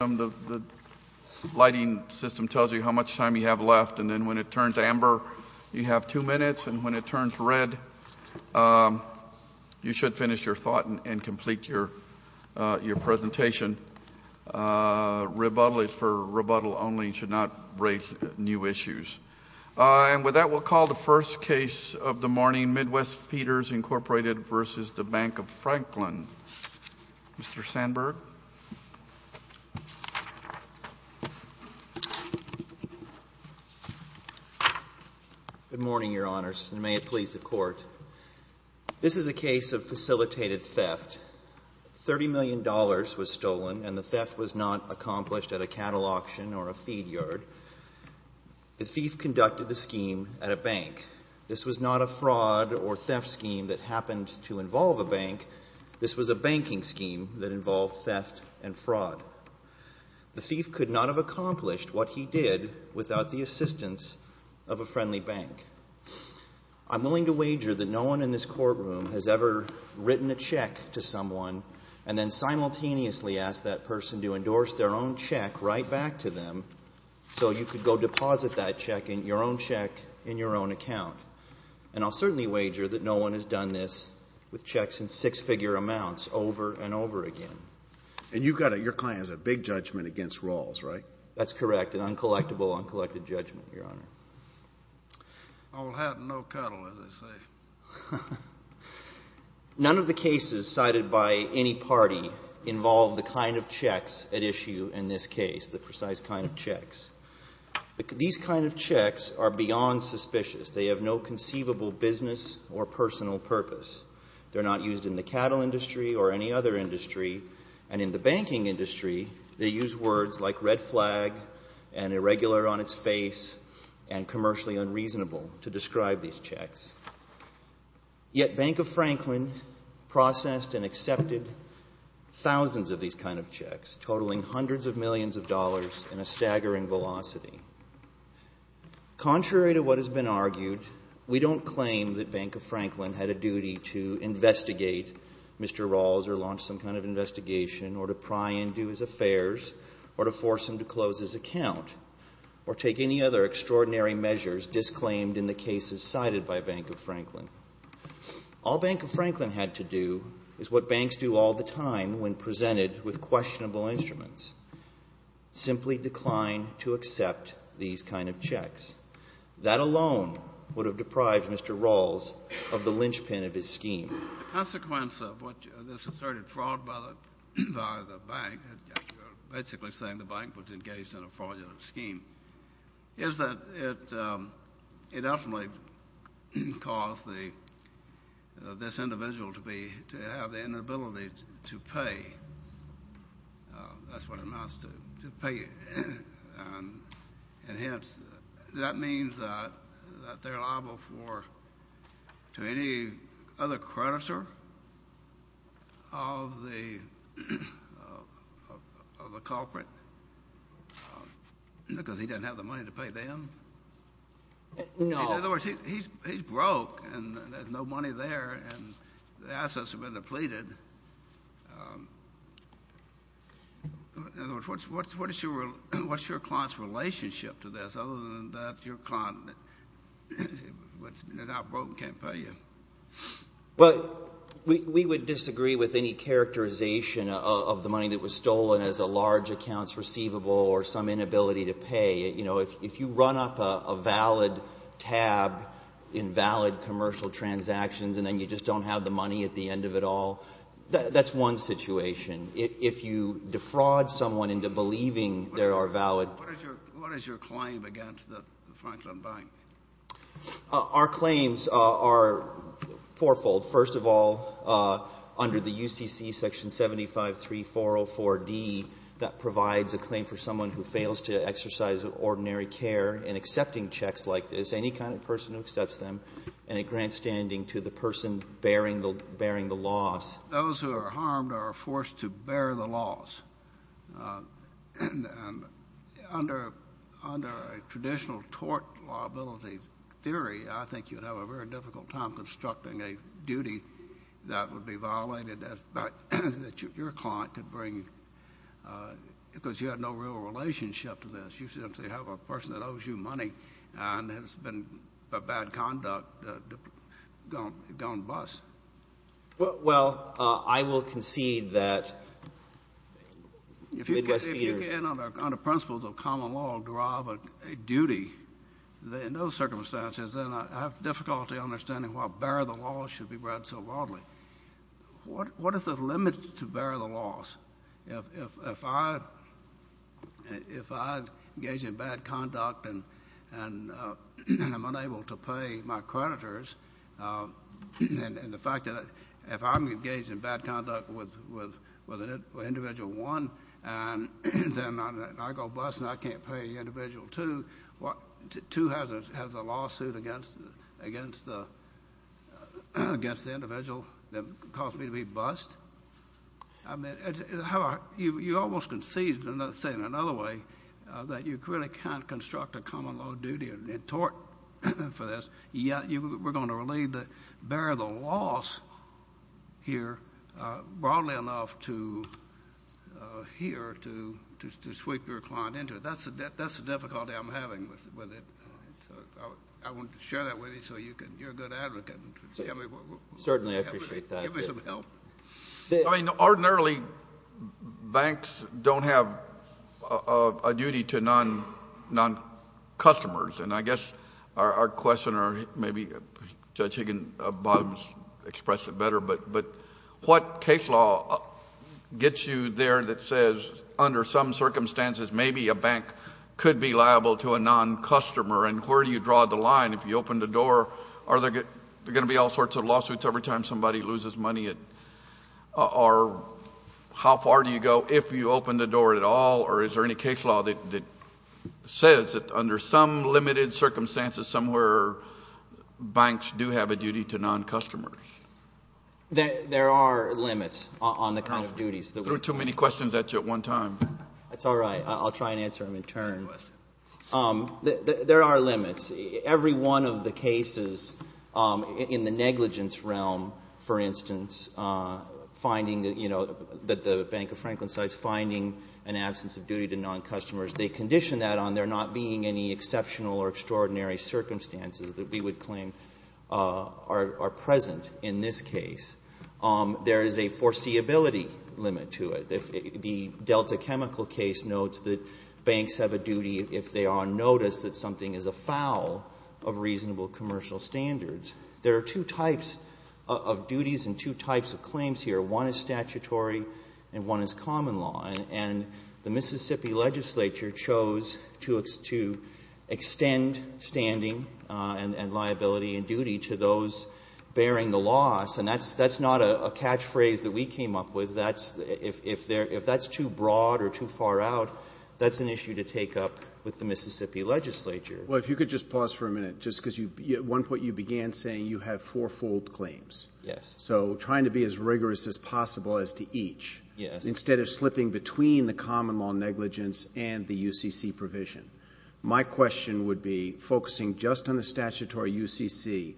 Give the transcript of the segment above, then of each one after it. The lighting system tells you how much time you have left, and then when it turns amber, you have two minutes, and when it turns red, you should finish your thought and complete your presentation. Rebuttal is for rebuttal only. You should not raise new issues. And with that, we'll call the first case of the morning, Midwest Feeders, Incorporated v. Bank of Franklin. Mr. Sandberg. Good morning, Your Honors, and may it please the Court. This is a case of facilitated theft. $30 million was stolen, and the theft was not accomplished at a cattle auction or a feed yard. The thief conducted the scheme at a bank. This was not a fraud or theft scheme that happened to involve a bank. This was a banking scheme that involved theft and fraud. The thief could not have accomplished what he did without the assistance of a friendly bank. I'm willing to wager that no one in this courtroom has ever written a check to someone and then simultaneously asked that person to endorse their own check right back to them so you could go deposit that check, your own check, in your own account. And I'll certainly wager that no one has done this with checks in six-figure amounts over and over again. And you've got a, your client has a big judgment against Rawls, right? That's correct, an uncollectible, uncollected judgment, Your Honor. All hat and no cuddle, as they say. None of the cases cited by any party involve the kind of checks at issue in this case, the precise kind of checks. These kind of checks are beyond suspicious. They have no conceivable business or personal purpose. They're not used in the cattle industry or any other industry. And in the banking industry, they use words like red flag and irregular on its face and commercially unreasonable to describe these checks. Yet Bank of Franklin processed and accepted thousands of these kind of checks, totaling hundreds of millions of dollars in a staggering velocity. Contrary to what has been argued, we don't claim that Bank of Franklin had a duty to investigate Mr. Rawls or launch some kind of investigation or to pry into his affairs or to force him to close his account or take any other extraordinary measures disclaimed in the cases cited by Bank of Franklin. All Bank of Franklin had to do is what banks do all the time when presented with questionable instruments, simply decline to accept these kind of checks. That alone would have deprived Mr. Rawls of the linchpin of his scheme. The consequence of what this asserted fraud by the bank, basically saying the bank was engaged in a fraudulent scheme, is that it ultimately caused this individual to have the inability to pay. That's what it amounts to, to pay. And hence, that means that they're liable to any other creditor of the culprit because he doesn't have the money to pay them. No. In other words, he's broke, and there's no money there, and the assets have been depleted. In other words, what's your client's relationship to this other than that your client is out broke and can't pay you? Well, we would disagree with any characterization of the money that was stolen as a large accounts receivable or some inability to pay. You know, if you run up a valid tab in valid commercial transactions and then you just don't have the money at the end of it all, that's one situation. If you defraud someone into believing there are valid- What is your claim against the Franklin Bank? Our claims are fourfold. First of all, under the UCC section 75-3404-D, that provides a claim for someone who fails to exercise ordinary care in accepting checks like this, any kind of person who accepts them, and it grants standing to the person bearing the loss. Those who are harmed are forced to bear the loss. And under a traditional tort liability theory, I think you'd have a very difficult time constructing a duty that would be violated that your client could bring because you have no real relationship to this. You simply have a person that owes you money and has been a bad conduct gone bust. Well, I will concede that- If you can, under principles of common law, derive a duty in those circumstances, then I have difficulty understanding why bear the loss should be read so broadly. What is the limit to bear the loss? If I engage in bad conduct and am unable to pay my creditors, and the fact that if I'm engaged in bad conduct with individual one, and then I go bust and I can't pay individual two, two has a lawsuit against the individual that caused me to be bust? I mean, you almost concede, let's say in another way, that you really can't construct a common law duty in tort for this, but we're going to relate the bear the loss here broadly enough to here to sweep your client into it. That's the difficulty I'm having with it. I want to share that with you so you're a good advocate. Certainly, I appreciate that. Give me some help. I mean, ordinarily, banks don't have a duty to non-customers, and I guess our question, or maybe Judge Higginbottom has expressed it better, but what case law gets you there that says under some circumstances, maybe a bank could be liable to a non-customer, and where do you draw the line? If you open the door, are there going to be all sorts of lawsuits every time somebody loses money, or how far do you go if you open the door at all, or is there any case law that says that under some limited circumstances somewhere, banks do have a duty to non-customers? There are limits on the kind of duties. I threw too many questions at you at one time. That's all right. I'll try and answer them in turn. There are limits. Every one of the cases in the negligence realm, for instance, finding, you know, that the Bank of Franklin sites finding an absence of duty to non-customers, they condition that on there not being any exceptional or extraordinary circumstances that we would claim are present in this case. There is a foreseeability limit to it. The Delta Chemical case notes that banks have a duty if they are on notice that something is afoul of reasonable commercial standards. There are two types of duties and two types of claims here. One is statutory and one is common law. And the Mississippi legislature chose to extend standing and liability and duty to those bearing the loss, and that's not a catchphrase that we came up with. If that's too broad or too far out, that's an issue to take up with the Mississippi legislature. Well, if you could just pause for a minute, just because at one point you began saying you have four-fold claims. Yes. So trying to be as rigorous as possible as to each. Yes. Instead of slipping between the common law negligence and the UCC provision. My question would be, focusing just on the statutory UCC,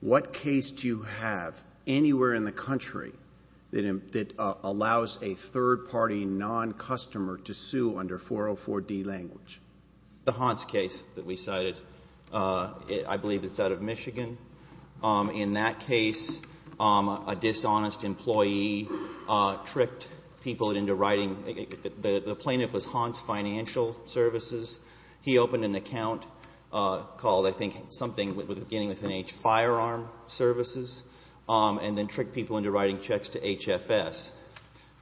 what case do you have anywhere in the country that allows a third-party non-customer to sue under 404D language? The Hans case that we cited. I believe it's out of Michigan. In that case, a dishonest employee tricked people into writing. The plaintiff was Hans Financial Services. He opened an account called, I think, something beginning with an H, Firearm Services, and then tricked people into writing checks to HFS.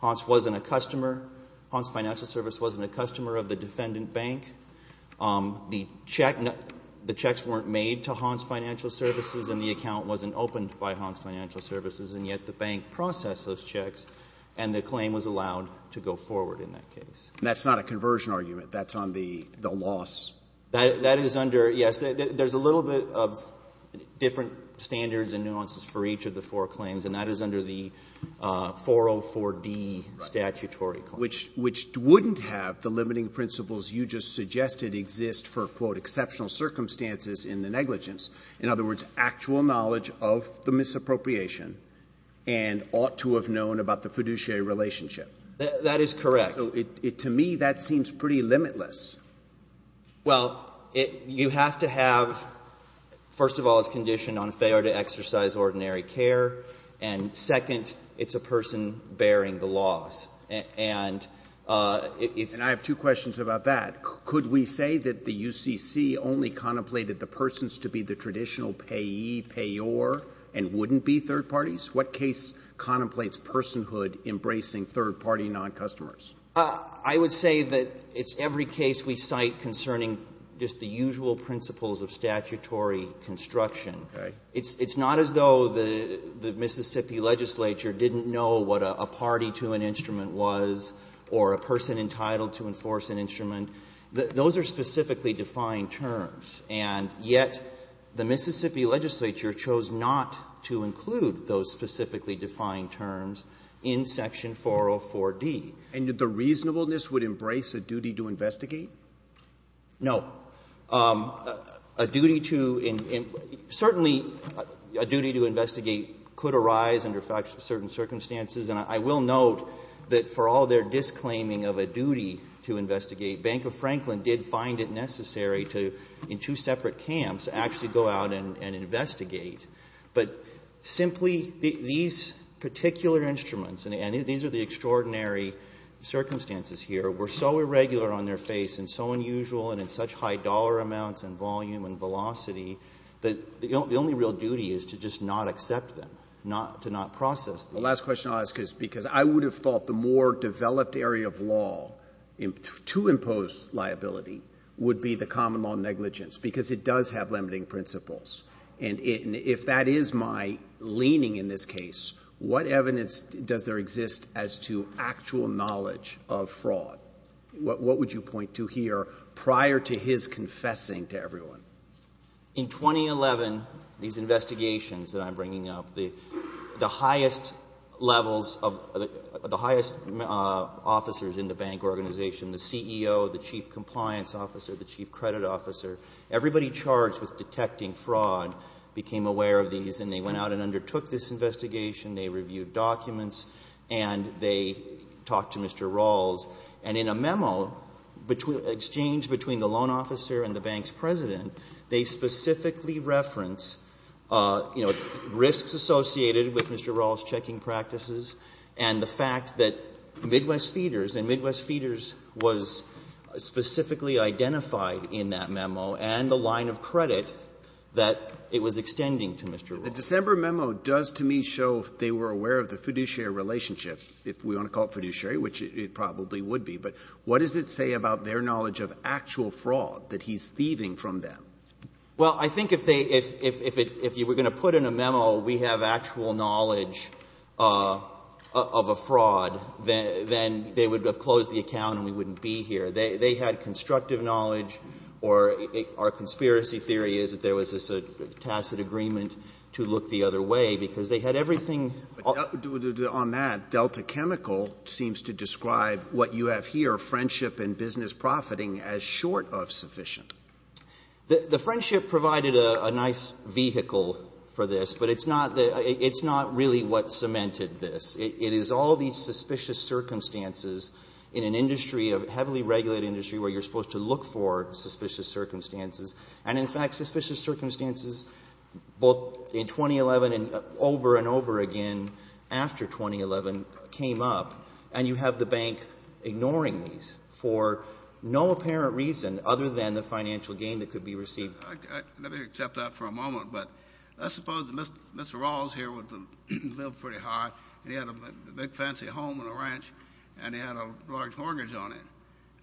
Hans wasn't a customer. Hans Financial Service wasn't a customer of the defendant bank. The checks weren't made to Hans Financial Services, and the account wasn't opened by Hans Financial Services, and yet the bank processed those checks, and the claim was allowed to go forward in that case. That's not a conversion argument. That's on the loss. That is under, yes. There's a little bit of different standards and nuances for each of the four claims, and that is under the 404D statutory claim. Right. Which wouldn't have the limiting principles you just suggested exist for, quote, exceptional circumstances in the negligence. In other words, actual knowledge of the misappropriation and ought to have known about the fiduciary relationship. That is correct. So to me, that seems pretty limitless. Well, you have to have, first of all, it's conditioned on failure to exercise ordinary care, and, second, it's a person bearing the loss. And if you have two questions about that, could we say that the UCC only contemplated the persons to be the traditional payee, payor, and wouldn't be third parties? What case contemplates personhood embracing third-party non-customers? I would say that it's every case we cite concerning just the usual principles of statutory construction. Okay. It's not as though the Mississippi legislature didn't know what a party to an instrument was or a person entitled to enforce an instrument. Those are specifically defined terms. And yet the Mississippi legislature chose not to include those specifically defined terms in Section 404D. And the reasonableness would embrace a duty to investigate? No. A duty to — certainly a duty to investigate could arise under certain circumstances. And I will note that for all their disclaiming of a duty to investigate, Bank of Franklin did find it necessary to, in two separate camps, actually go out and investigate. But simply these particular instruments, and these are the extraordinary circumstances here, were so irregular on their face and so unusual and in such high dollar amounts and volume and velocity that the only real duty is to just not accept them, to not process them. The last question I'll ask is because I would have thought the more developed area of law to impose liability would be the common law negligence because it does have limiting principles. And if that is my leaning in this case, what evidence does there exist as to actual knowledge of fraud? What would you point to here prior to his confessing to everyone? In 2011, these investigations that I'm bringing up, the highest levels of — the highest officers in the bank organization, the CEO, the chief compliance officer, the chief credit officer, everybody charged with detecting fraud became aware of these. And they went out and undertook this investigation. They reviewed documents. And they talked to Mr. Rawls. And in a memo exchanged between the loan officer and the bank's president, they specifically reference risks associated with Mr. Rawls' checking practices and the fact that Midwest Feeders was specifically identified in that memo and the line of credit that it was extending to Mr. Rawls. The December memo does to me show they were aware of the fiduciary relationship, if we want to call it fiduciary, which it probably would be. But what does it say about their knowledge of actual fraud that he's thieving from them? Well, I think if they — if you were going to put in a memo, we have actual knowledge of a fraud, then they would have closed the account and we wouldn't be here. They had constructive knowledge, or our conspiracy theory is that there was a tacit agreement to look the other way because they had everything — On that, Delta Chemical seems to describe what you have here, friendship and business profiting, as short of sufficient. The friendship provided a nice vehicle for this, but it's not the — it's not really what cemented this. It is all these suspicious circumstances in an industry, a heavily regulated industry, where you're supposed to look for suspicious circumstances. And in fact, suspicious circumstances both in 2011 and over and over again after 2011 came up, and you have the bank ignoring these for no apparent reason other than the financial gain that could be received. Let me accept that for a moment. But let's suppose that Mr. Rawls here lived pretty high, and he had a big fancy home and a ranch, and he had a large mortgage on him.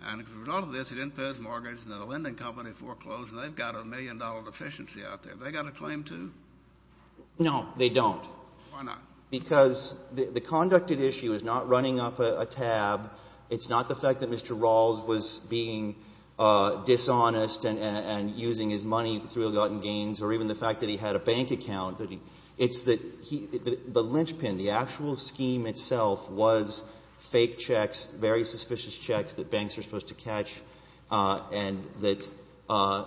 And as a result of this, he didn't pay his mortgage, and the lending company foreclosed, and they've got a million-dollar deficiency out there. Have they got a claim, too? No, they don't. Why not? Because the conducted issue is not running up a tab. It's not the fact that Mr. Rawls was being dishonest and using his money through ill-gotten gains or even the fact that he had a bank account. It's that he — the linchpin, the actual scheme itself was fake checks, very suspicious checks that banks are supposed to catch, and that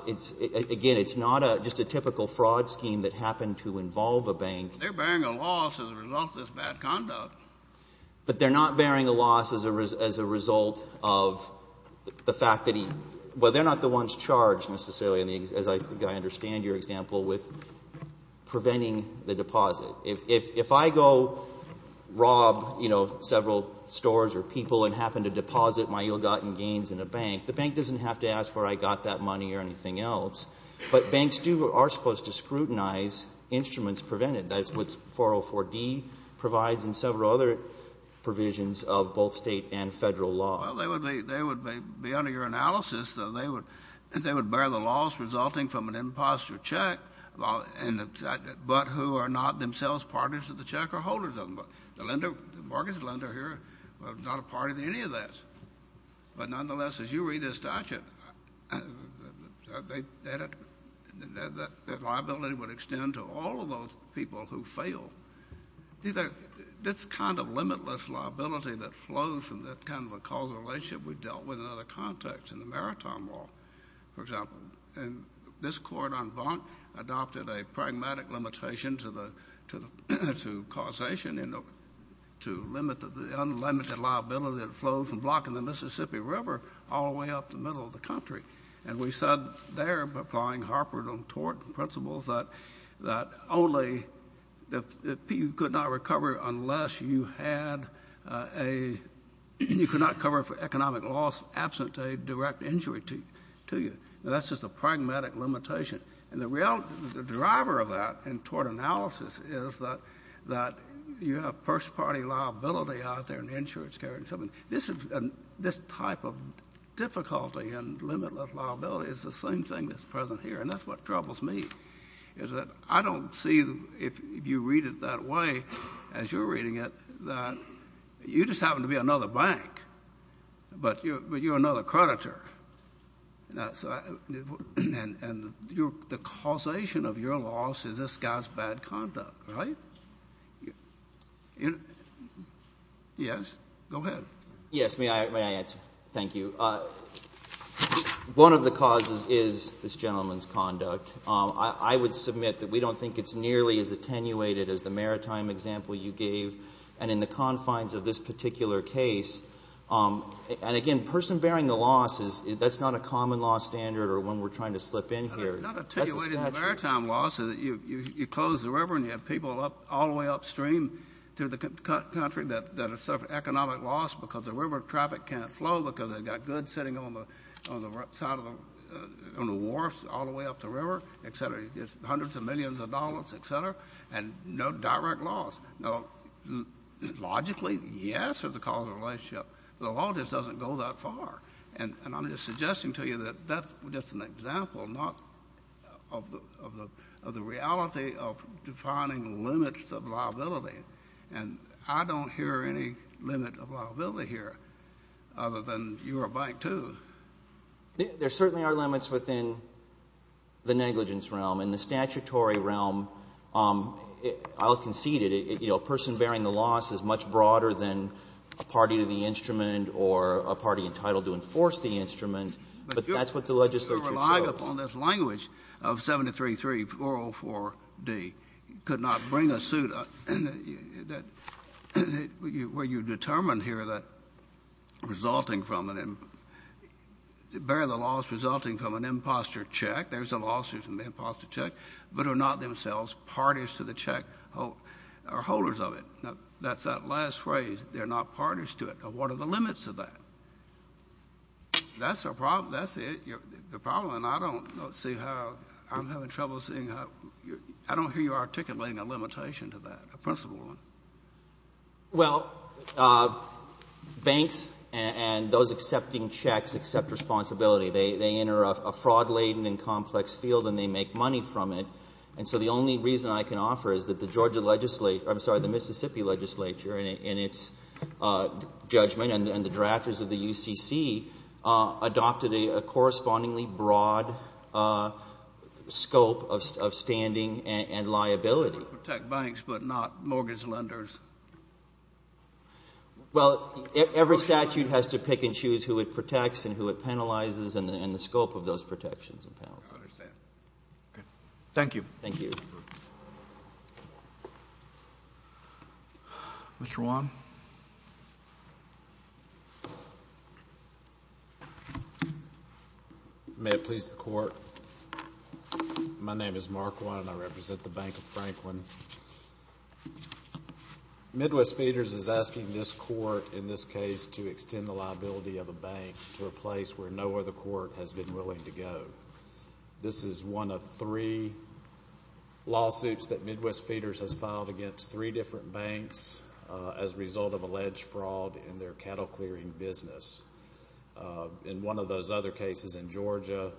it's — again, it's not just a typical fraud scheme that happened to involve a bank. They're bearing a loss as a result of this bad conduct. But they're not bearing a loss as a result of the fact that he — well, they're not the ones charged necessarily, as I think I understand your example, with preventing the deposit. If I go rob, you know, several stores or people and happen to deposit my ill-gotten gains in a bank, the bank doesn't have to ask where I got that money or anything else. But banks do — are supposed to scrutinize instruments prevented. That's what 404D provides and several other provisions of both State and Federal law. Well, they would be — they would be, under your analysis, though, they would — they would bear the loss resulting from an imposter check while — but who are not themselves partners of the check or holders of them. The lender — the mortgage lender here was not a part of any of this. But nonetheless, as you read this statute, the liability would extend to all of those people who fail. This kind of limitless liability that flows from that kind of a causal relationship we dealt with in other contexts, in the Maritime Law, for example. And this court on Bonk adopted a pragmatic limitation to the — to causation in the — to limit the unlimited liability that flows from blocking the Mississippi River all the way up the middle of the country. And we said there, applying Harper v. Tort principles, that — that only — that you could not recover unless you had a — you could not cover for economic loss absent a direct injury to — to you. Now, that's just a pragmatic limitation. And the real — the driver of that in Tort analysis is that — that you have first-party liability out there in insurance care and so on. And this is — this type of difficulty in limitless liability is the same thing that's present here. And that's what troubles me, is that I don't see, if you read it that way, as you're reading it, that you just happen to be another bank, but you're another creditor. And the causation of your loss is this guy's bad conduct, right? Yes? Go ahead. Yes. May I answer? Thank you. One of the causes is this gentleman's conduct. I would submit that we don't think it's nearly as attenuated as the maritime example you gave. And in the confines of this particular case — and, again, person bearing the loss is — that's not a common-loss standard or one we're trying to slip in here. That's a statute. It's not attenuated in the maritime law, so that you close the river and you have people all the way upstream to the country that have suffered economic loss because the river traffic can't flow because they've got goods sitting on the side of the — on the wharfs all the way up the river, et cetera. It's hundreds of millions of dollars, et cetera, and no direct loss. Now, logically, yes, there's a causal relationship, but the law just doesn't go that far. And I'm just suggesting to you that that's just an example, not — of the reality of defining limits of liability. And I don't hear any limit of liability here, other than you're a bank, too. There certainly are limits within the negligence realm. In the statutory realm, I'll concede it. You know, person bearing the loss is much broader than a party to the instrument or a party entitled to enforce the instrument. But that's what the legislature chose. The language of 733-404-D could not bring a suit that — where you determine here that resulting from an — bear the loss resulting from an imposter check — there's a lawsuit from the imposter check — but are not themselves parties to the check or holders of it. Now, that's that last phrase, they're not parties to it. Now, what are the limits of that? That's a problem. That's it. The problem, and I don't see how — I'm having trouble seeing how — I don't hear you articulating a limitation to that, a principle one. Well, banks and those accepting checks accept responsibility. They enter a fraud-laden and complex field, and they make money from it. And so the only reason I can offer is that the Georgia legislature — I'm sorry, the Mississippi legislature in its judgment and the drafters of the UCC adopted a correspondingly broad scope of standing and liability. To protect banks but not mortgage lenders. Well, every statute has to pick and choose who it protects and who it penalizes and the scope of those protections and penalties. I understand. Thank you. Thank you. Mr. Wan. May it please the Court. My name is Mark Wan, and I represent the Bank of Franklin. Midwest Feeders is asking this Court, in this case, to extend the liability of a bank to a place where no other court has been willing to go. This is one of three lawsuits that Midwest Feeders has filed against three different banks as a result of alleged fraud in their cattle-clearing business. In one of those other cases in Georgia,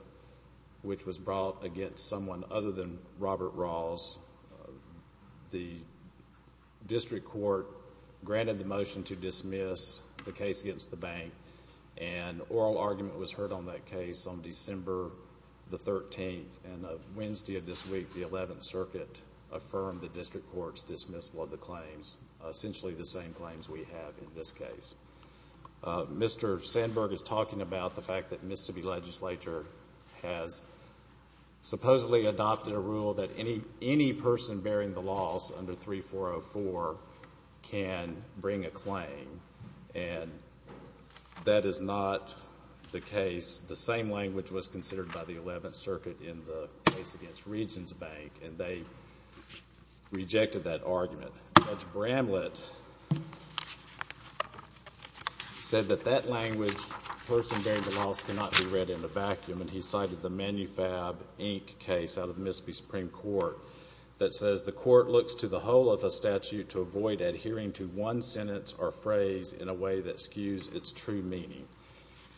which was brought against someone other than Robert Rawls, the district court granted the motion to dismiss the case against the bank, and an oral argument was heard on that case on December 13, and on Wednesday of this week, the 11th Circuit affirmed the district court's dismissal of the claims, essentially the same claims we have in this case. Mr. Sandberg is talking about the fact that the Mississippi legislature has supposedly adopted a rule that any person bearing the loss under 3404 can bring a claim. And that is not the case. The same language was considered by the 11th Circuit in the case against Regions Bank, and they rejected that argument. Judge Bramlett said that that language, person bearing the loss, cannot be read in a vacuum, and he cited the Manufab, Inc. case out of the Mississippi Supreme Court that says, the court looks to the whole of a statute to avoid adhering to one sentence or phrase in a way that skews its true meaning.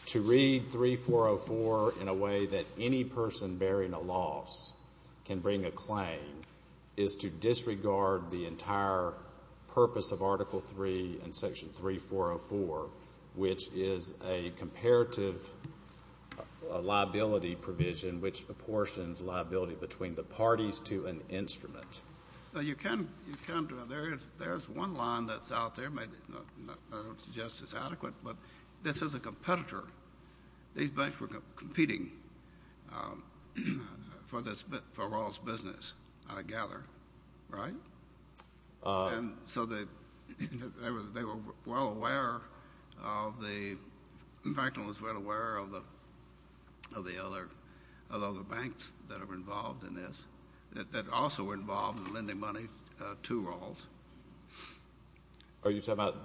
To read 3404 in a way that any person bearing a loss can bring a claim is to disregard the entire purpose of Article III and Section 3404, which is a comparative liability provision which apportions liability between the parties to an instrument. You can, there is one line that's out there, I don't suggest it's adequate, but this is a competitor. These banks were competing for this, for Rawls Business, I gather, right? And so they were well aware of the, Franklin was well aware of the other banks that were involved in this, that also were involved in lending money to Rawls. Are you talking about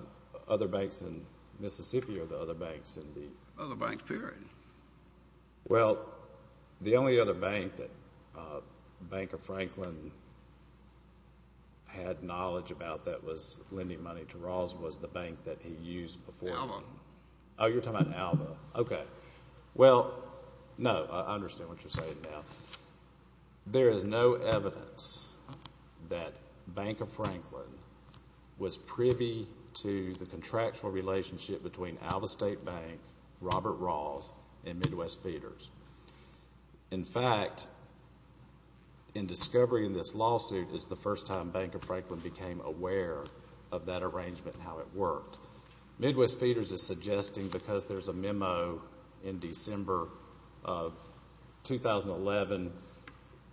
other banks in Mississippi or the other banks in the? Other banks, period. Well, the only other bank that Banker Franklin had knowledge about that was lending money to Rawls was the bank that he used before. Alva. Oh, you're talking about Alva. Okay. Well, no, I understand what you're saying now. There is no evidence that Banker Franklin was privy to the contractual relationship between Alva State Bank, Robert Rawls, and Midwest Feeders. In fact, in discovery in this lawsuit is the first time Banker Franklin became aware of that arrangement and how it worked. So Midwest Feeders is suggesting, because there's a memo in December of 2011,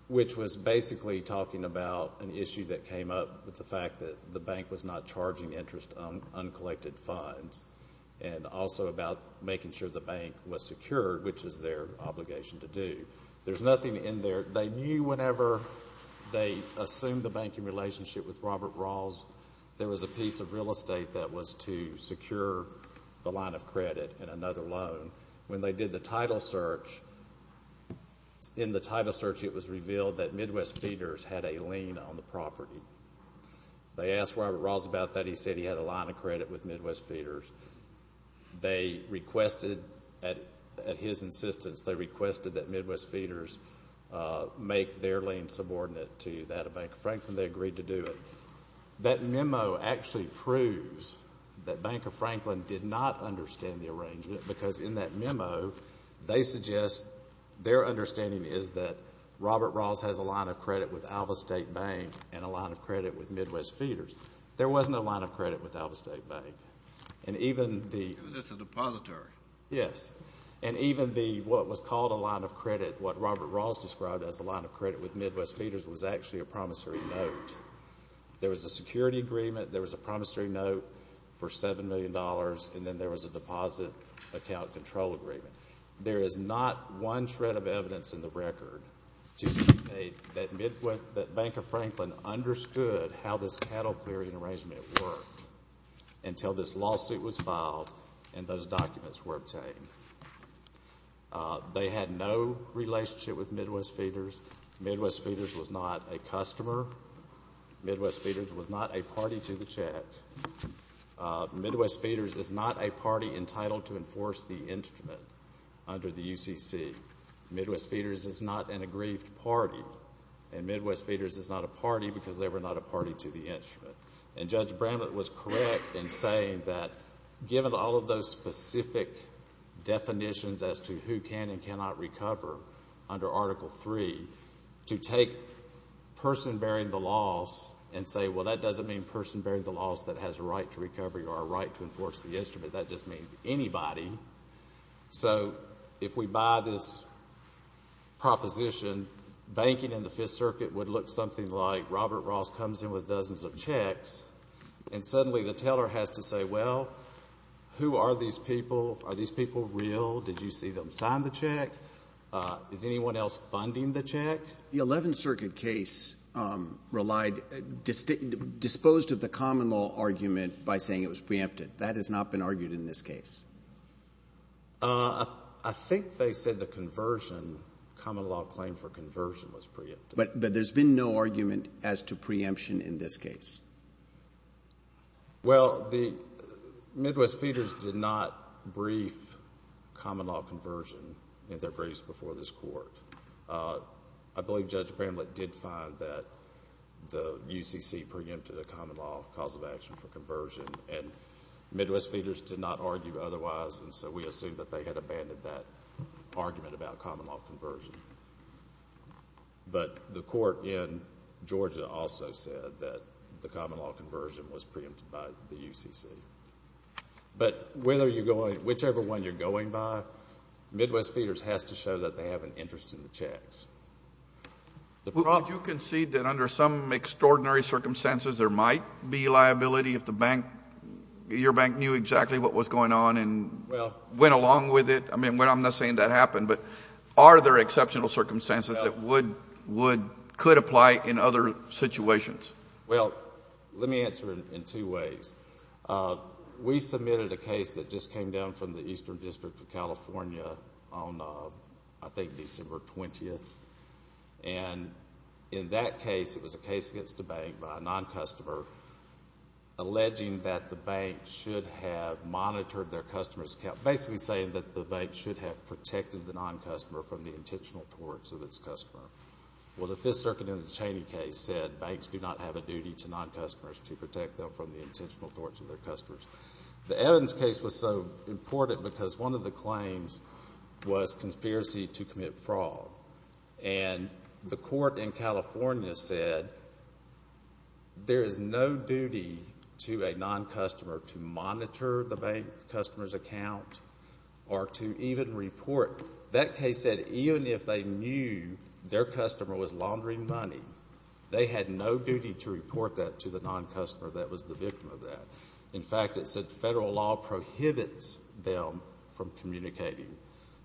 which was basically talking about an issue that came up with the fact that the bank was not charging interest on uncollected funds and also about making sure the bank was secured, which is their obligation to do. There's nothing in there. They assumed the banking relationship with Robert Rawls. There was a piece of real estate that was to secure the line of credit in another loan. When they did the title search, in the title search it was revealed that Midwest Feeders had a lien on the property. They asked Robert Rawls about that. He said he had a line of credit with Midwest Feeders. They requested, at his insistence, they requested that Midwest Feeders make their lien subordinate to that of Banker Franklin. They agreed to do it. That memo actually proves that Banker Franklin did not understand the arrangement, because in that memo they suggest their understanding is that Robert Rawls has a line of credit with Alva State Bank and a line of credit with Midwest Feeders. There wasn't a line of credit with Alva State Bank. And even the It was just a depository. Yes. And even the, what was called a line of credit, what Robert Rawls described as a line of credit with Midwest Feeders, was actually a promissory note. There was a security agreement, there was a promissory note for $7 million, and then there was a deposit account control agreement. There is not one shred of evidence in the record that Banker Franklin understood how this cattle clearing arrangement worked until this lawsuit was filed and those documents were obtained. They had no relationship with Midwest Feeders. Midwest Feeders was not a customer. Midwest Feeders was not a party to the check. Midwest Feeders is not a party entitled to enforce the instrument under the UCC. Midwest Feeders is not an aggrieved party. And Midwest Feeders is not a party because they were not a party to the instrument. And Judge Bramlett was correct in saying that given all of those specific definitions as to who can and cannot recover under Article III, to take person bearing the loss and say, well, that doesn't mean person bearing the loss that has a right to recovery or a right to enforce the instrument. That just means anybody. So if we buy this proposition, banking in the Fifth Circuit would look something like Robert Rawls comes in with dozens of checks, and suddenly the teller has to say, well, who are these people? Are these people real? Did you see them sign the check? Is anyone else funding the check? The Eleventh Circuit case relied, disposed of the common law argument by saying it was preempted. That has not been argued in this case. I think they said the conversion, common law claim for conversion was preempted. But there's been no argument as to preemption in this case. Well, the Midwest Feeders did not brief common law conversion in their briefs before this court. I believe Judge Bramlett did find that the UCC preempted a common law cause of action for conversion, and Midwest Feeders did not argue otherwise, and so we assume that they had abandoned that argument about common law conversion. But the court in Georgia also said that the common law conversion was preempted by the UCC. But whichever one you're going by, Midwest Feeders has to show that they have an interest in the checks. Would you concede that under some extraordinary circumstances there might be liability if the bank, your bank knew exactly what was going on and went along with it? I mean, I'm not saying that happened, but are there exceptional circumstances that would, could apply in other situations? Well, let me answer it in two ways. We submitted a case that just came down from the Eastern District of California on, I think, December 20th. And in that case, it was a case against the bank by a non-customer alleging that the bank should have monitored their customer's account, basically saying that the bank should have protected the non-customer from the intentional torts of its customer. Well, the Fifth Circuit in the Cheney case said banks do not have a duty to non-customers to protect them from the intentional torts of their customers. The Evans case was so important because one of the claims was conspiracy to commit fraud. And the court in California said there is no duty to a non-customer to monitor the bank customer's account or to even report. That case said even if they knew their customer was laundering money, they had no duty to report that to the non-customer that was the victim of that. In fact, it said federal law prohibits them from communicating.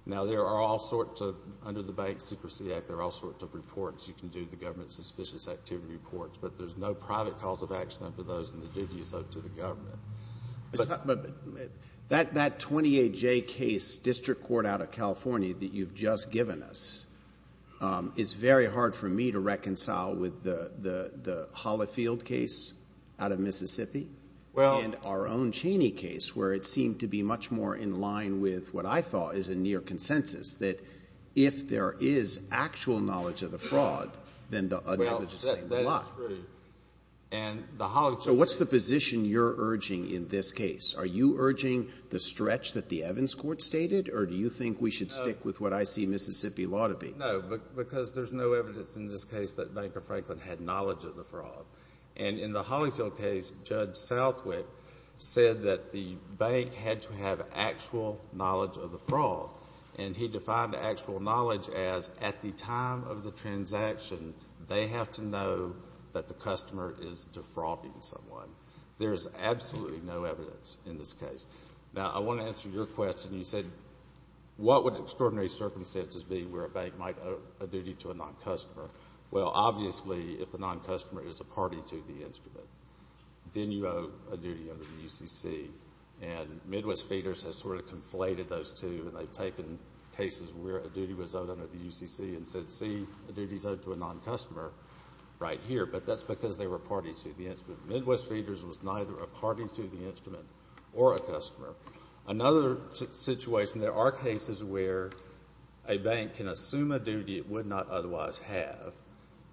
Now, there are all sorts of, under the Bank Secrecy Act, there are all sorts of reports. You can do the government's suspicious activity reports, but there's no private cause of action under those and the duty is owed to the government. But that 28J case, District Court out of California, that you've just given us, is very hard for me to reconcile with the Holifield case out of Mississippi and our own Cheney case, where it seemed to be much more in line with what I thought is a near consensus, that if there is actual knowledge of the fraud, then the unknowledge is going to be lost. Well, that is true. And the Holifield case… So what's the position you're urging in this case? Are you urging the stretch that the Evans court stated, or do you think we should stick with what I see Mississippi law to be? No, because there's no evidence in this case that Banker Franklin had knowledge of the fraud. And in the Holifield case, Judge Southwick said that the bank had to have actual knowledge of the fraud. And he defined actual knowledge as at the time of the transaction, they have to know that the customer is defrauding someone. There is absolutely no evidence in this case. Now, I want to answer your question. You said, what would extraordinary circumstances be where a bank might owe a duty to a non-customer? Well, obviously, if the non-customer is a party to the instrument, then you owe a duty under the UCC. And Midwest Feeders has sort of conflated those two, and they've taken cases where a duty was owed under the UCC and said, see, a duty is owed to a non-customer right here. But that's because they were a party to the instrument. Midwest Feeders was neither a party to the instrument or a customer. Another situation, there are cases where a bank can assume a duty it would not otherwise have.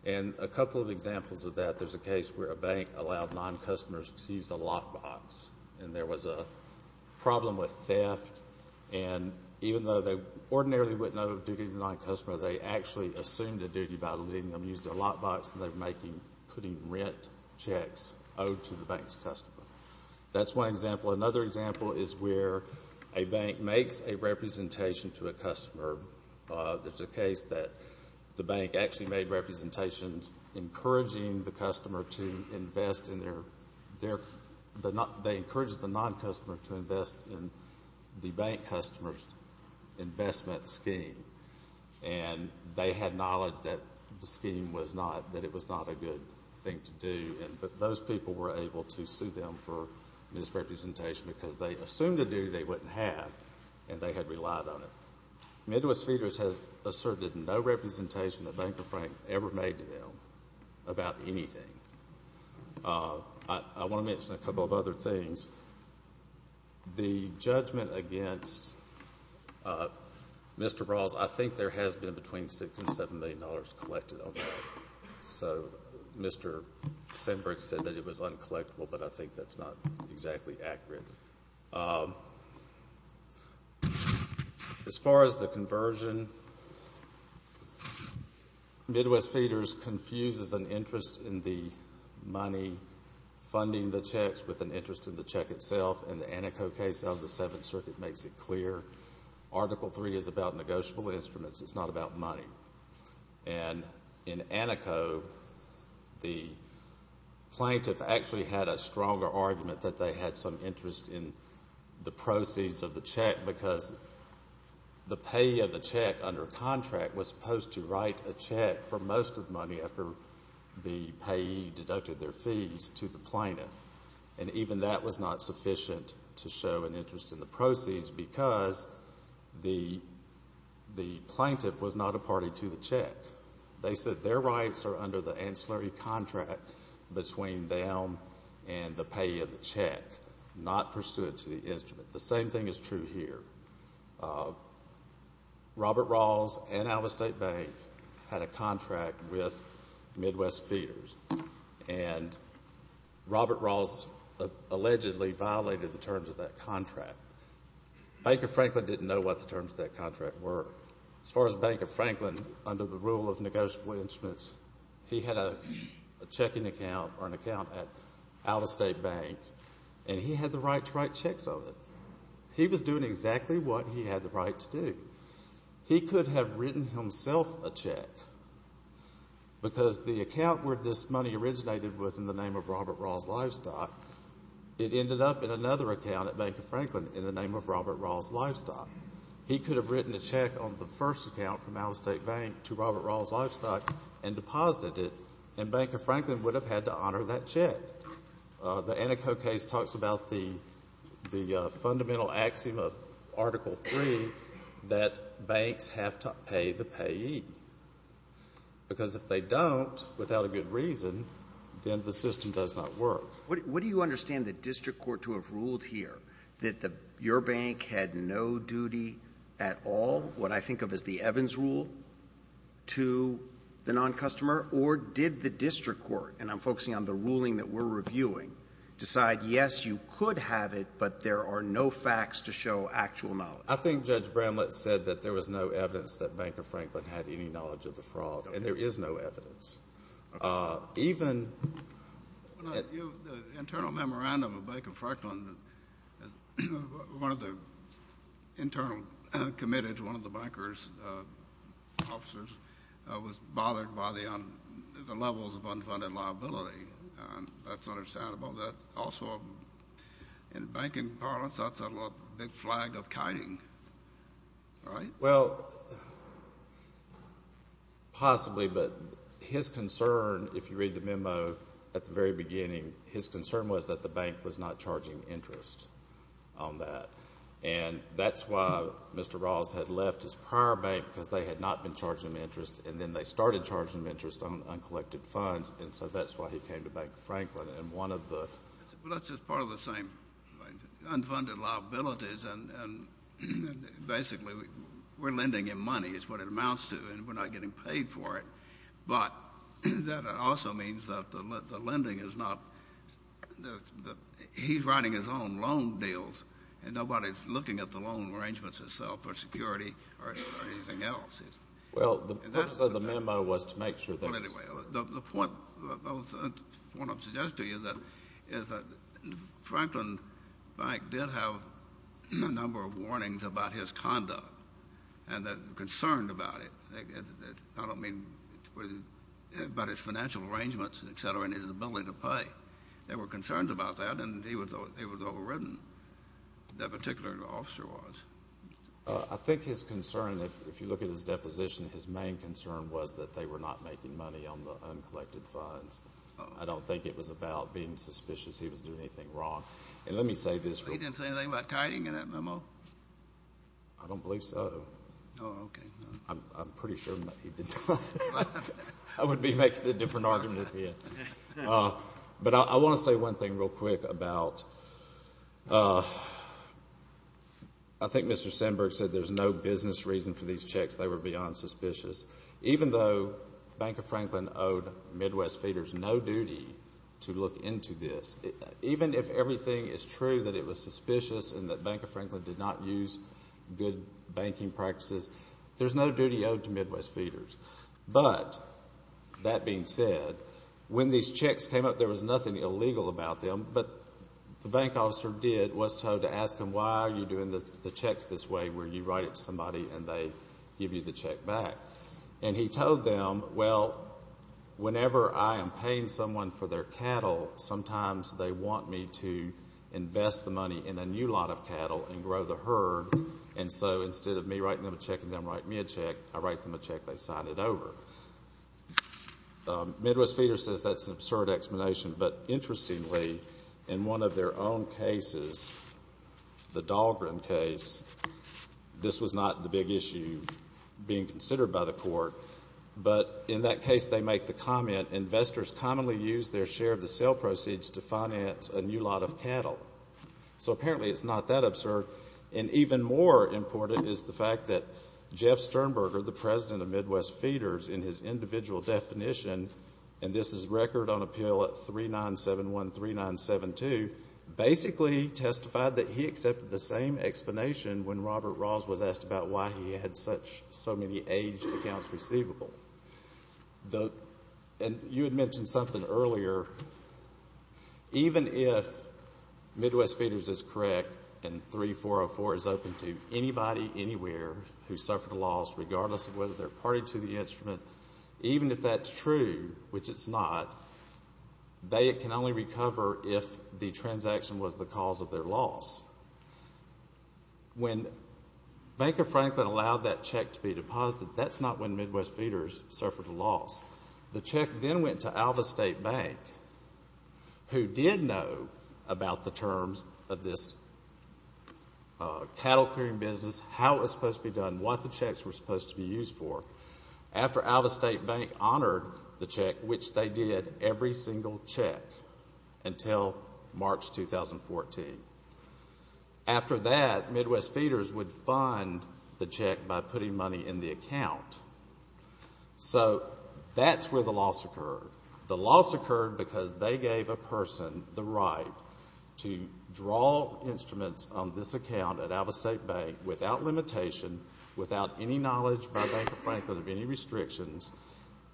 And a couple of examples of that, there's a case where a bank allowed non-customers to use a lockbox, and there was a problem with theft. And even though they ordinarily wouldn't owe a duty to a non-customer, they actually assumed a duty by letting them use their lockbox and they were putting rent checks owed to the bank's customer. That's one example. Another example is where a bank makes a representation to a customer. There's a case that the bank actually made representations encouraging the customer to invest in their, they encouraged the non-customer to invest in the bank customer's investment scheme. And they had knowledge that the scheme was not, that it was not a good thing to do. And those people were able to sue them for misrepresentation because they assumed a duty they wouldn't have, and they had relied on it. Midwest Feeders has asserted no representation the Bank of Frank ever made to them about anything. I want to mention a couple of other things. The judgment against Mr. Rawls, I think there has been between $6 and $7 million collected on that. So Mr. Sinbrick said that it was uncollectible, but I think that's not exactly accurate. As far as the conversion, Midwest Feeders confuses an interest in the money, funding the checks with an interest in the check itself. And the Antico case of the Seventh Circuit makes it clear. Article III is about negotiable instruments. It's not about money. And in Antico, the plaintiff actually had a stronger argument that they had some interest in the proceeds of the check because the payee of the check under contract was supposed to write a check for most of the money after the payee deducted their fees to the plaintiff. And even that was not sufficient to show an interest in the proceeds because the plaintiff was not a party to the check. They said their rights are under the ancillary contract between them and the payee of the check, not pursuant to the instrument. The same thing is true here. Robert Rawls and Alvestate Bank had a contract with Midwest Feeders, and Robert Rawls allegedly violated the terms of that contract. Bank of Franklin didn't know what the terms of that contract were. As far as Bank of Franklin, under the rule of negotiable instruments, he had a checking account or an account at Alvestate Bank, and he had the right to write checks on it. He was doing exactly what he had the right to do. He could have written himself a check, because the account where this money originated was in the name of Robert Rawls Livestock. It ended up in another account at Bank of Franklin in the name of Robert Rawls Livestock. He could have written a check on the first account from Alvestate Bank to Robert Rawls Livestock and deposited it, and Bank of Franklin would have had to honor that check. The Antico case talks about the fundamental axiom of Article III, that banks have to pay the payee, because if they don't, without a good reason, then the system does not work. What do you understand the district court to have ruled here, that your bank had no duty at all, what I think of as the Evans rule, to the non-customer, or did the district court, and I'm focusing on the ruling that we're reviewing, decide, yes, you could have it, but there are no facts to show actual knowledge? I think Judge Bramlett said that there was no evidence that Bank of Franklin had any knowledge of the fraud, and there is no evidence. Even the internal memorandum of Bank of Franklin, one of the internal committees, one of the bankers, officers, was bothered by the levels of unfunded liability. That's understandable. Also, in banking parlance, that's a big flag of kiting, right? Well, possibly, but his concern, if you read the memo at the very beginning, his concern was that the bank was not charging interest on that, and that's why Mr. Rawls had left his prior bank, because they had not been charging him interest, and then they started charging him interest on uncollected funds, and so that's why he came to Bank of Franklin. Well, that's just part of the same thing, unfunded liabilities, and basically we're lending him money is what it amounts to, and we're not getting paid for it. But that also means that the lending is not the he's writing his own loan deals, and nobody's looking at the loan arrangements itself for security or anything else. Well, the purpose of the memo was to make sure that it was. Well, anyway, the point I want to suggest to you is that Franklin Bank did have a number of warnings about his conduct and the concern about it. I don't mean about his financial arrangements, et cetera, and his ability to pay. But there were concerns about that, and he was overridden, that particular officer was. I think his concern, if you look at his deposition, his main concern was that they were not making money on the uncollected funds. I don't think it was about being suspicious he was doing anything wrong. And let me say this. He didn't say anything about kiting in that memo? I don't believe so. Oh, okay. I'm pretty sure he did not. I would be making a different argument if he did. But I want to say one thing real quick about I think Mr. Sandberg said there's no business reason for these checks. They were beyond suspicious. Even though Bank of Franklin owed Midwest Feeders no duty to look into this, even if everything is true that it was suspicious and that Bank of Franklin did not use good banking practices, there's no duty owed to Midwest Feeders. But that being said, when these checks came up, there was nothing illegal about them. But the bank officer did, was told to ask them, why are you doing the checks this way where you write it to somebody and they give you the check back? And he told them, well, whenever I am paying someone for their cattle, sometimes they want me to invest the money in a new lot of cattle and grow the herd. And so instead of me writing them a check and them writing me a check, I write them a check. They sign it over. Midwest Feeders says that's an absurd explanation. But interestingly, in one of their own cases, the Dahlgren case, this was not the big issue being considered by the court. But in that case, they make the comment, investors commonly use their share of the sale proceeds to finance a new lot of cattle. So apparently it's not that absurd. And even more important is the fact that Jeff Sternberger, the president of Midwest Feeders, in his individual definition, and this is record on appeal at 3971, 3972, basically testified that he accepted the same explanation when Robert Rawls was asked about why he had so many aged accounts receivable. And you had mentioned something earlier. Even if Midwest Feeders is correct and 3404 is open to anybody, anywhere who suffered a loss, regardless of whether they're party to the instrument, even if that's true, which it's not, they can only recover if the transaction was the cause of their loss. When Bank of Franklin allowed that check to be deposited, that's not when Midwest Feeders suffered a loss. The check then went to Alvestate Bank, who did know about the terms of this cattle clearing business, how it was supposed to be done, what the checks were supposed to be used for. After Alvestate Bank honored the check, which they did, every single check until March 2014. After that, Midwest Feeders would fund the check by putting money in the account. So that's where the loss occurred. The loss occurred because they gave a person the right to draw instruments on this account at Alvestate Bank without limitation, without any knowledge by Bank of Franklin of any restrictions.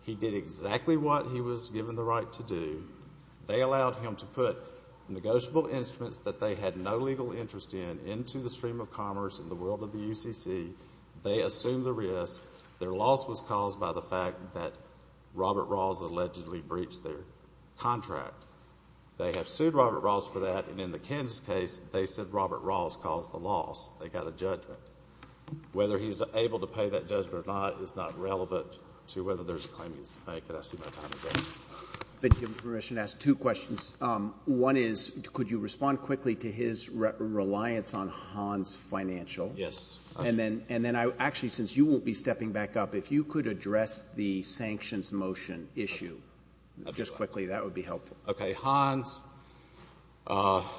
He did exactly what he was given the right to do. They allowed him to put negotiable instruments that they had no legal interest in, into the stream of commerce in the world of the UCC. They assumed the risk. Their loss was caused by the fact that Robert Rawls allegedly breached their contract. They have sued Robert Rawls for that. And in the Kansas case, they said Robert Rawls caused the loss. They got a judgment. Whether he's able to pay that judgment or not is not relevant to whether there's claimings to make. And I see my time is up. I've been given permission to ask two questions. One is, could you respond quickly to his reliance on Hans Financial? Yes. And then actually, since you won't be stepping back up, if you could address the sanctions motion issue just quickly, that would be helpful. Okay. Hans. Hans,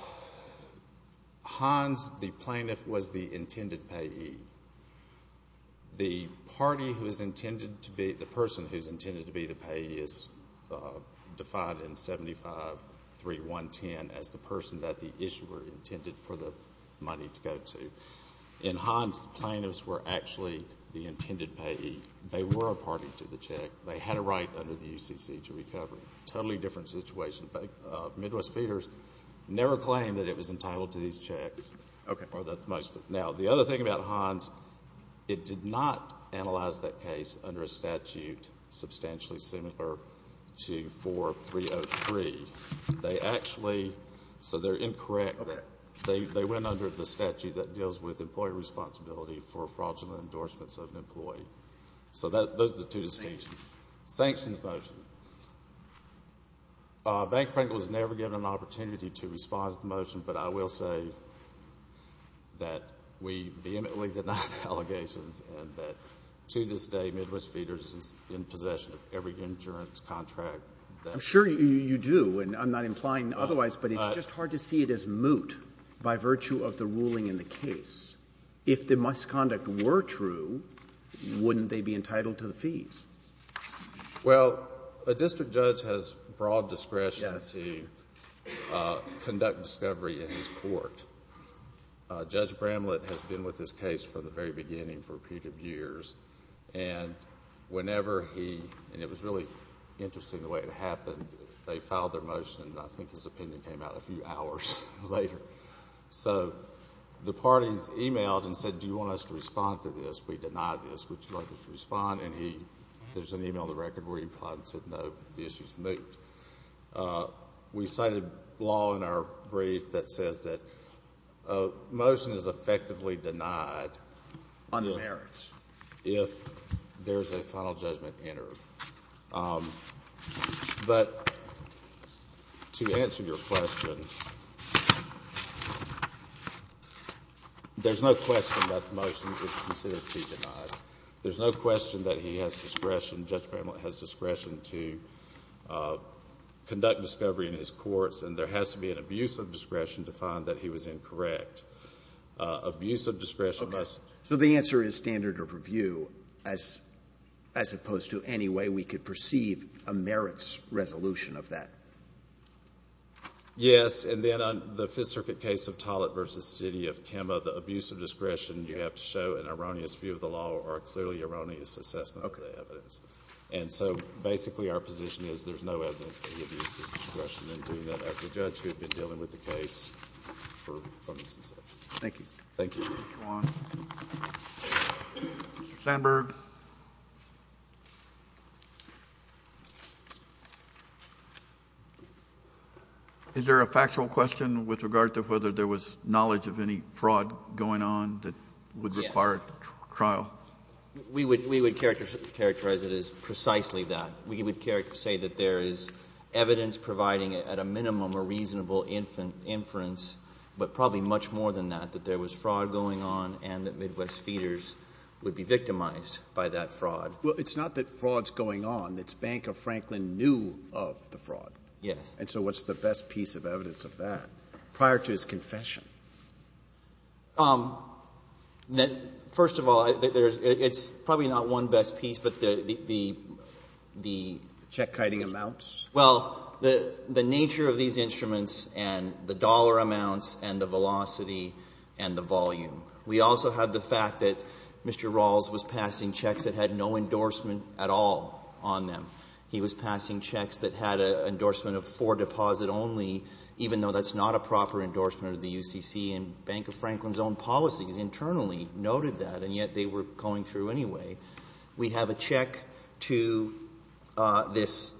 the plaintiff, was the intended payee. The party who is intended to be the person who is intended to be the payee is defined in 753110 as the person that the issuer intended for the money to go to. In Hans, the plaintiffs were actually the intended payee. They were a party to the check. They had a right under the UCC to recover. Totally different situation. Midwest Feeders never claimed that it was entitled to these checks. Okay. Now, the other thing about Hans, it did not analyze that case under a statute substantially They actually, so they're incorrect. Okay. They went under the statute that deals with employee responsibility for fraudulent endorsements of an employee. So those are the two distinctions. Sanctions motion. Bank of Franklin was never given an opportunity to respond to the motion, but I will say that we vehemently deny the allegations and that to this day, Midwest Feeders is in possession of every insurance contract. I'm sure you do. And I'm not implying otherwise, but it's just hard to see it as moot by virtue of the ruling in the case. If the misconduct were true, wouldn't they be entitled to the fees? Well, a district judge has broad discretion to conduct discovery in his court. Judge Bramlett has been with this case from the very beginning for a period of years. And whenever he, and it was really interesting the way it happened, they filed their motion and I think his opinion came out a few hours later. So the parties emailed and said, do you want us to respond to this? We denied this. Would you like us to respond? And he, there's an email in the record where he replied and said, no, the issue's moot. We cited law in our brief that says that a motion is effectively denied. On merits. If there's a final judgment entered. But to answer your question, there's no question that the motion is considered to be denied. There's no question that he has discretion, Judge Bramlett has discretion to conduct discovery in his courts, and there has to be an abuse of discretion to find that he was incorrect. Abuse of discretion must. Okay. So the answer is standard of review as opposed to any way we could perceive a merits resolution of that. Yes, and then on the Fifth Circuit case of Tollett v. City of Kemah, the abuse of discretion, you have to show an erroneous view of the law or a clearly erroneous assessment of the evidence. Okay. And so basically our position is there's no evidence that he abused his discretion in doing that as a judge who had been dealing with the case for some instance. Thank you. Thank you. Mr. Sandberg. Is there a factual question with regard to whether there was knowledge of any fraud going on that would require trial? Yes. We would characterize it as precisely that. We would say that there is evidence providing at a minimum a reasonable inference, but probably much more than that, that there was fraud going on and that Midwest Feeders would be victimized by that fraud. Well, it's not that fraud's going on. It's Banker Franklin knew of the fraud. Yes. And so what's the best piece of evidence of that prior to his confession? First of all, it's probably not one best piece, but the check-kiting amounts. Well, the nature of these instruments and the dollar amounts and the velocity and the volume. We also have the fact that Mr. Rawls was passing checks that had no endorsement at all on them. He was passing checks that had an endorsement of four deposit only, even though that's not a proper endorsement of the UCC. And Banker Franklin's own policies internally noted that, and yet they were going through anyway. We have a check to this,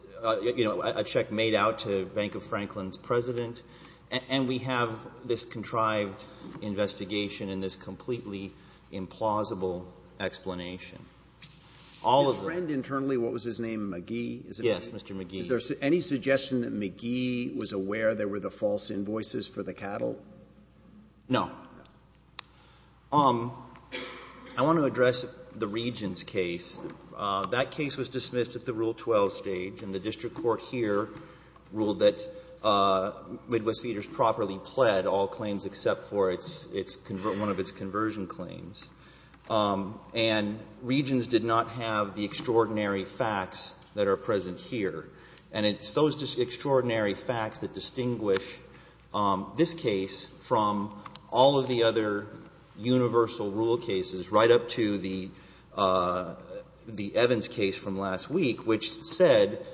you know, a check made out to Banker Franklin's president, and we have this contrived investigation and this completely implausible explanation. All of them. Is his friend internally, what was his name, McGee? Yes, Mr. McGee. Is there any suggestion that McGee was aware there were the false invoices for the cattle? No. I want to address the Regents' case. That case was dismissed at the Rule 12 stage, and the district court here ruled that Midwest Theaters properly pled all claims except for one of its conversion claims. And Regents did not have the extraordinary facts that are present here. And it's those extraordinary facts that distinguish this case from all of the other universal rule cases, right up to the Evans case from last week, which said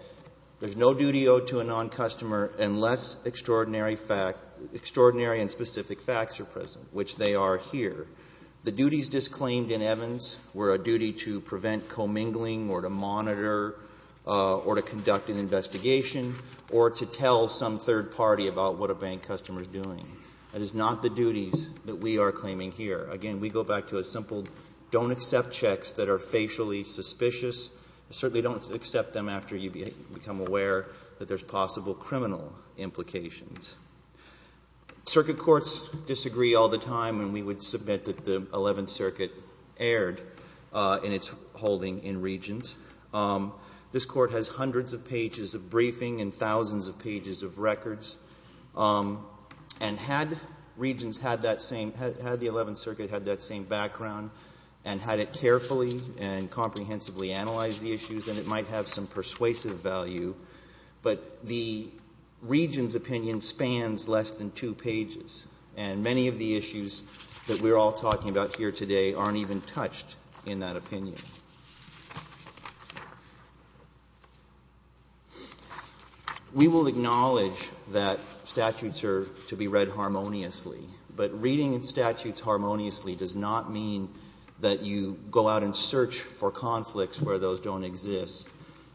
there's no duty owed to a non-customer unless extraordinary and specific facts are present, which they are here. The duties disclaimed in Evans were a duty to prevent commingling or to monitor or to conduct an investigation or to tell some third party about what a bank customer is doing. That is not the duties that we are claiming here. Again, we go back to a simple don't accept checks that are facially suspicious. Certainly don't accept them after you become aware that there's possible criminal implications. Circuit courts disagree all the time, and we would submit that the Eleventh Circuit erred in its holding in Regents. This Court has hundreds of pages of briefing and thousands of pages of records. And had Regents had that same — had the Eleventh Circuit had that same background and had it carefully and comprehensively analyzed the issues, then it might have some persuasive value. But the Regents' opinion spans less than two pages, and many of the issues that we are all talking about here today aren't even touched in that opinion. We will acknowledge that statutes are to be read harmoniously, but reading statutes harmoniously does not mean that you go out and search for conflicts where those don't exist,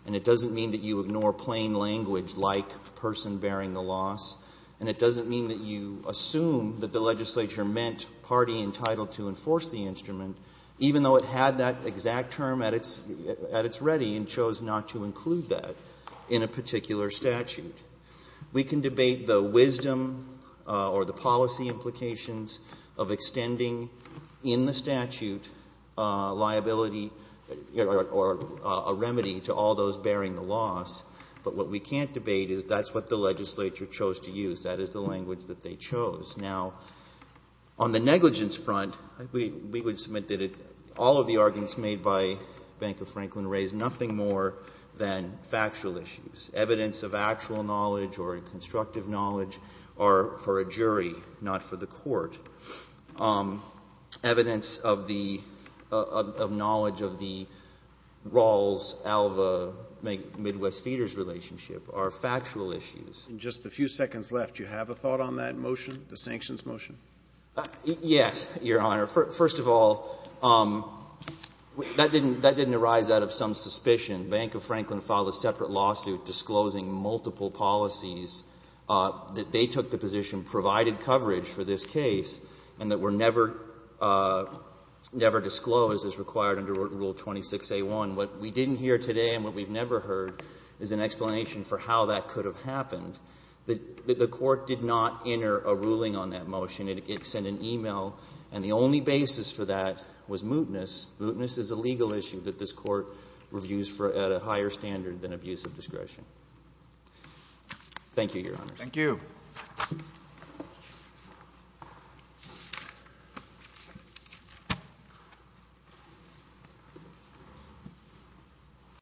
and it doesn't mean that you ignore plain language like person bearing the loss, and it doesn't mean that you assume that the legislature meant party entitled to enforce the instrument, even though it had that exact term at its ready and chose not to include that in a particular statute. We can debate the wisdom or the policy implications of extending in the statute liability or a remedy to all those bearing the loss, but what we can't debate is that's what the legislature chose to use. That is the language that they chose. Now, on the negligence front, we would submit that all of the arguments made by Bank of Franklin raise nothing more than factual issues. Evidence of actual knowledge or constructive knowledge are for a jury, not for the court. Evidence of the — of knowledge of the Rawls-Alva-Midwest-Feeders relationship are factual issues. In just the few seconds left, do you have a thought on that motion, the sanctions motion? Yes, Your Honor. First of all, that didn't arise out of some suspicion. Bank of Franklin filed a separate lawsuit disclosing multiple policies that they took the position provided coverage for this case and that were never — never disclosed as required under Rule 26a1. What we didn't hear today and what we've never heard is an explanation for how that could have happened. The court did not enter a ruling on that motion. It sent an e-mail, and the only basis for that was mootness. Mootness is a legal issue that this Court reviews for — at a higher standard than abuse of discretion. Thank you, Your Honors. Thank you. Thank you.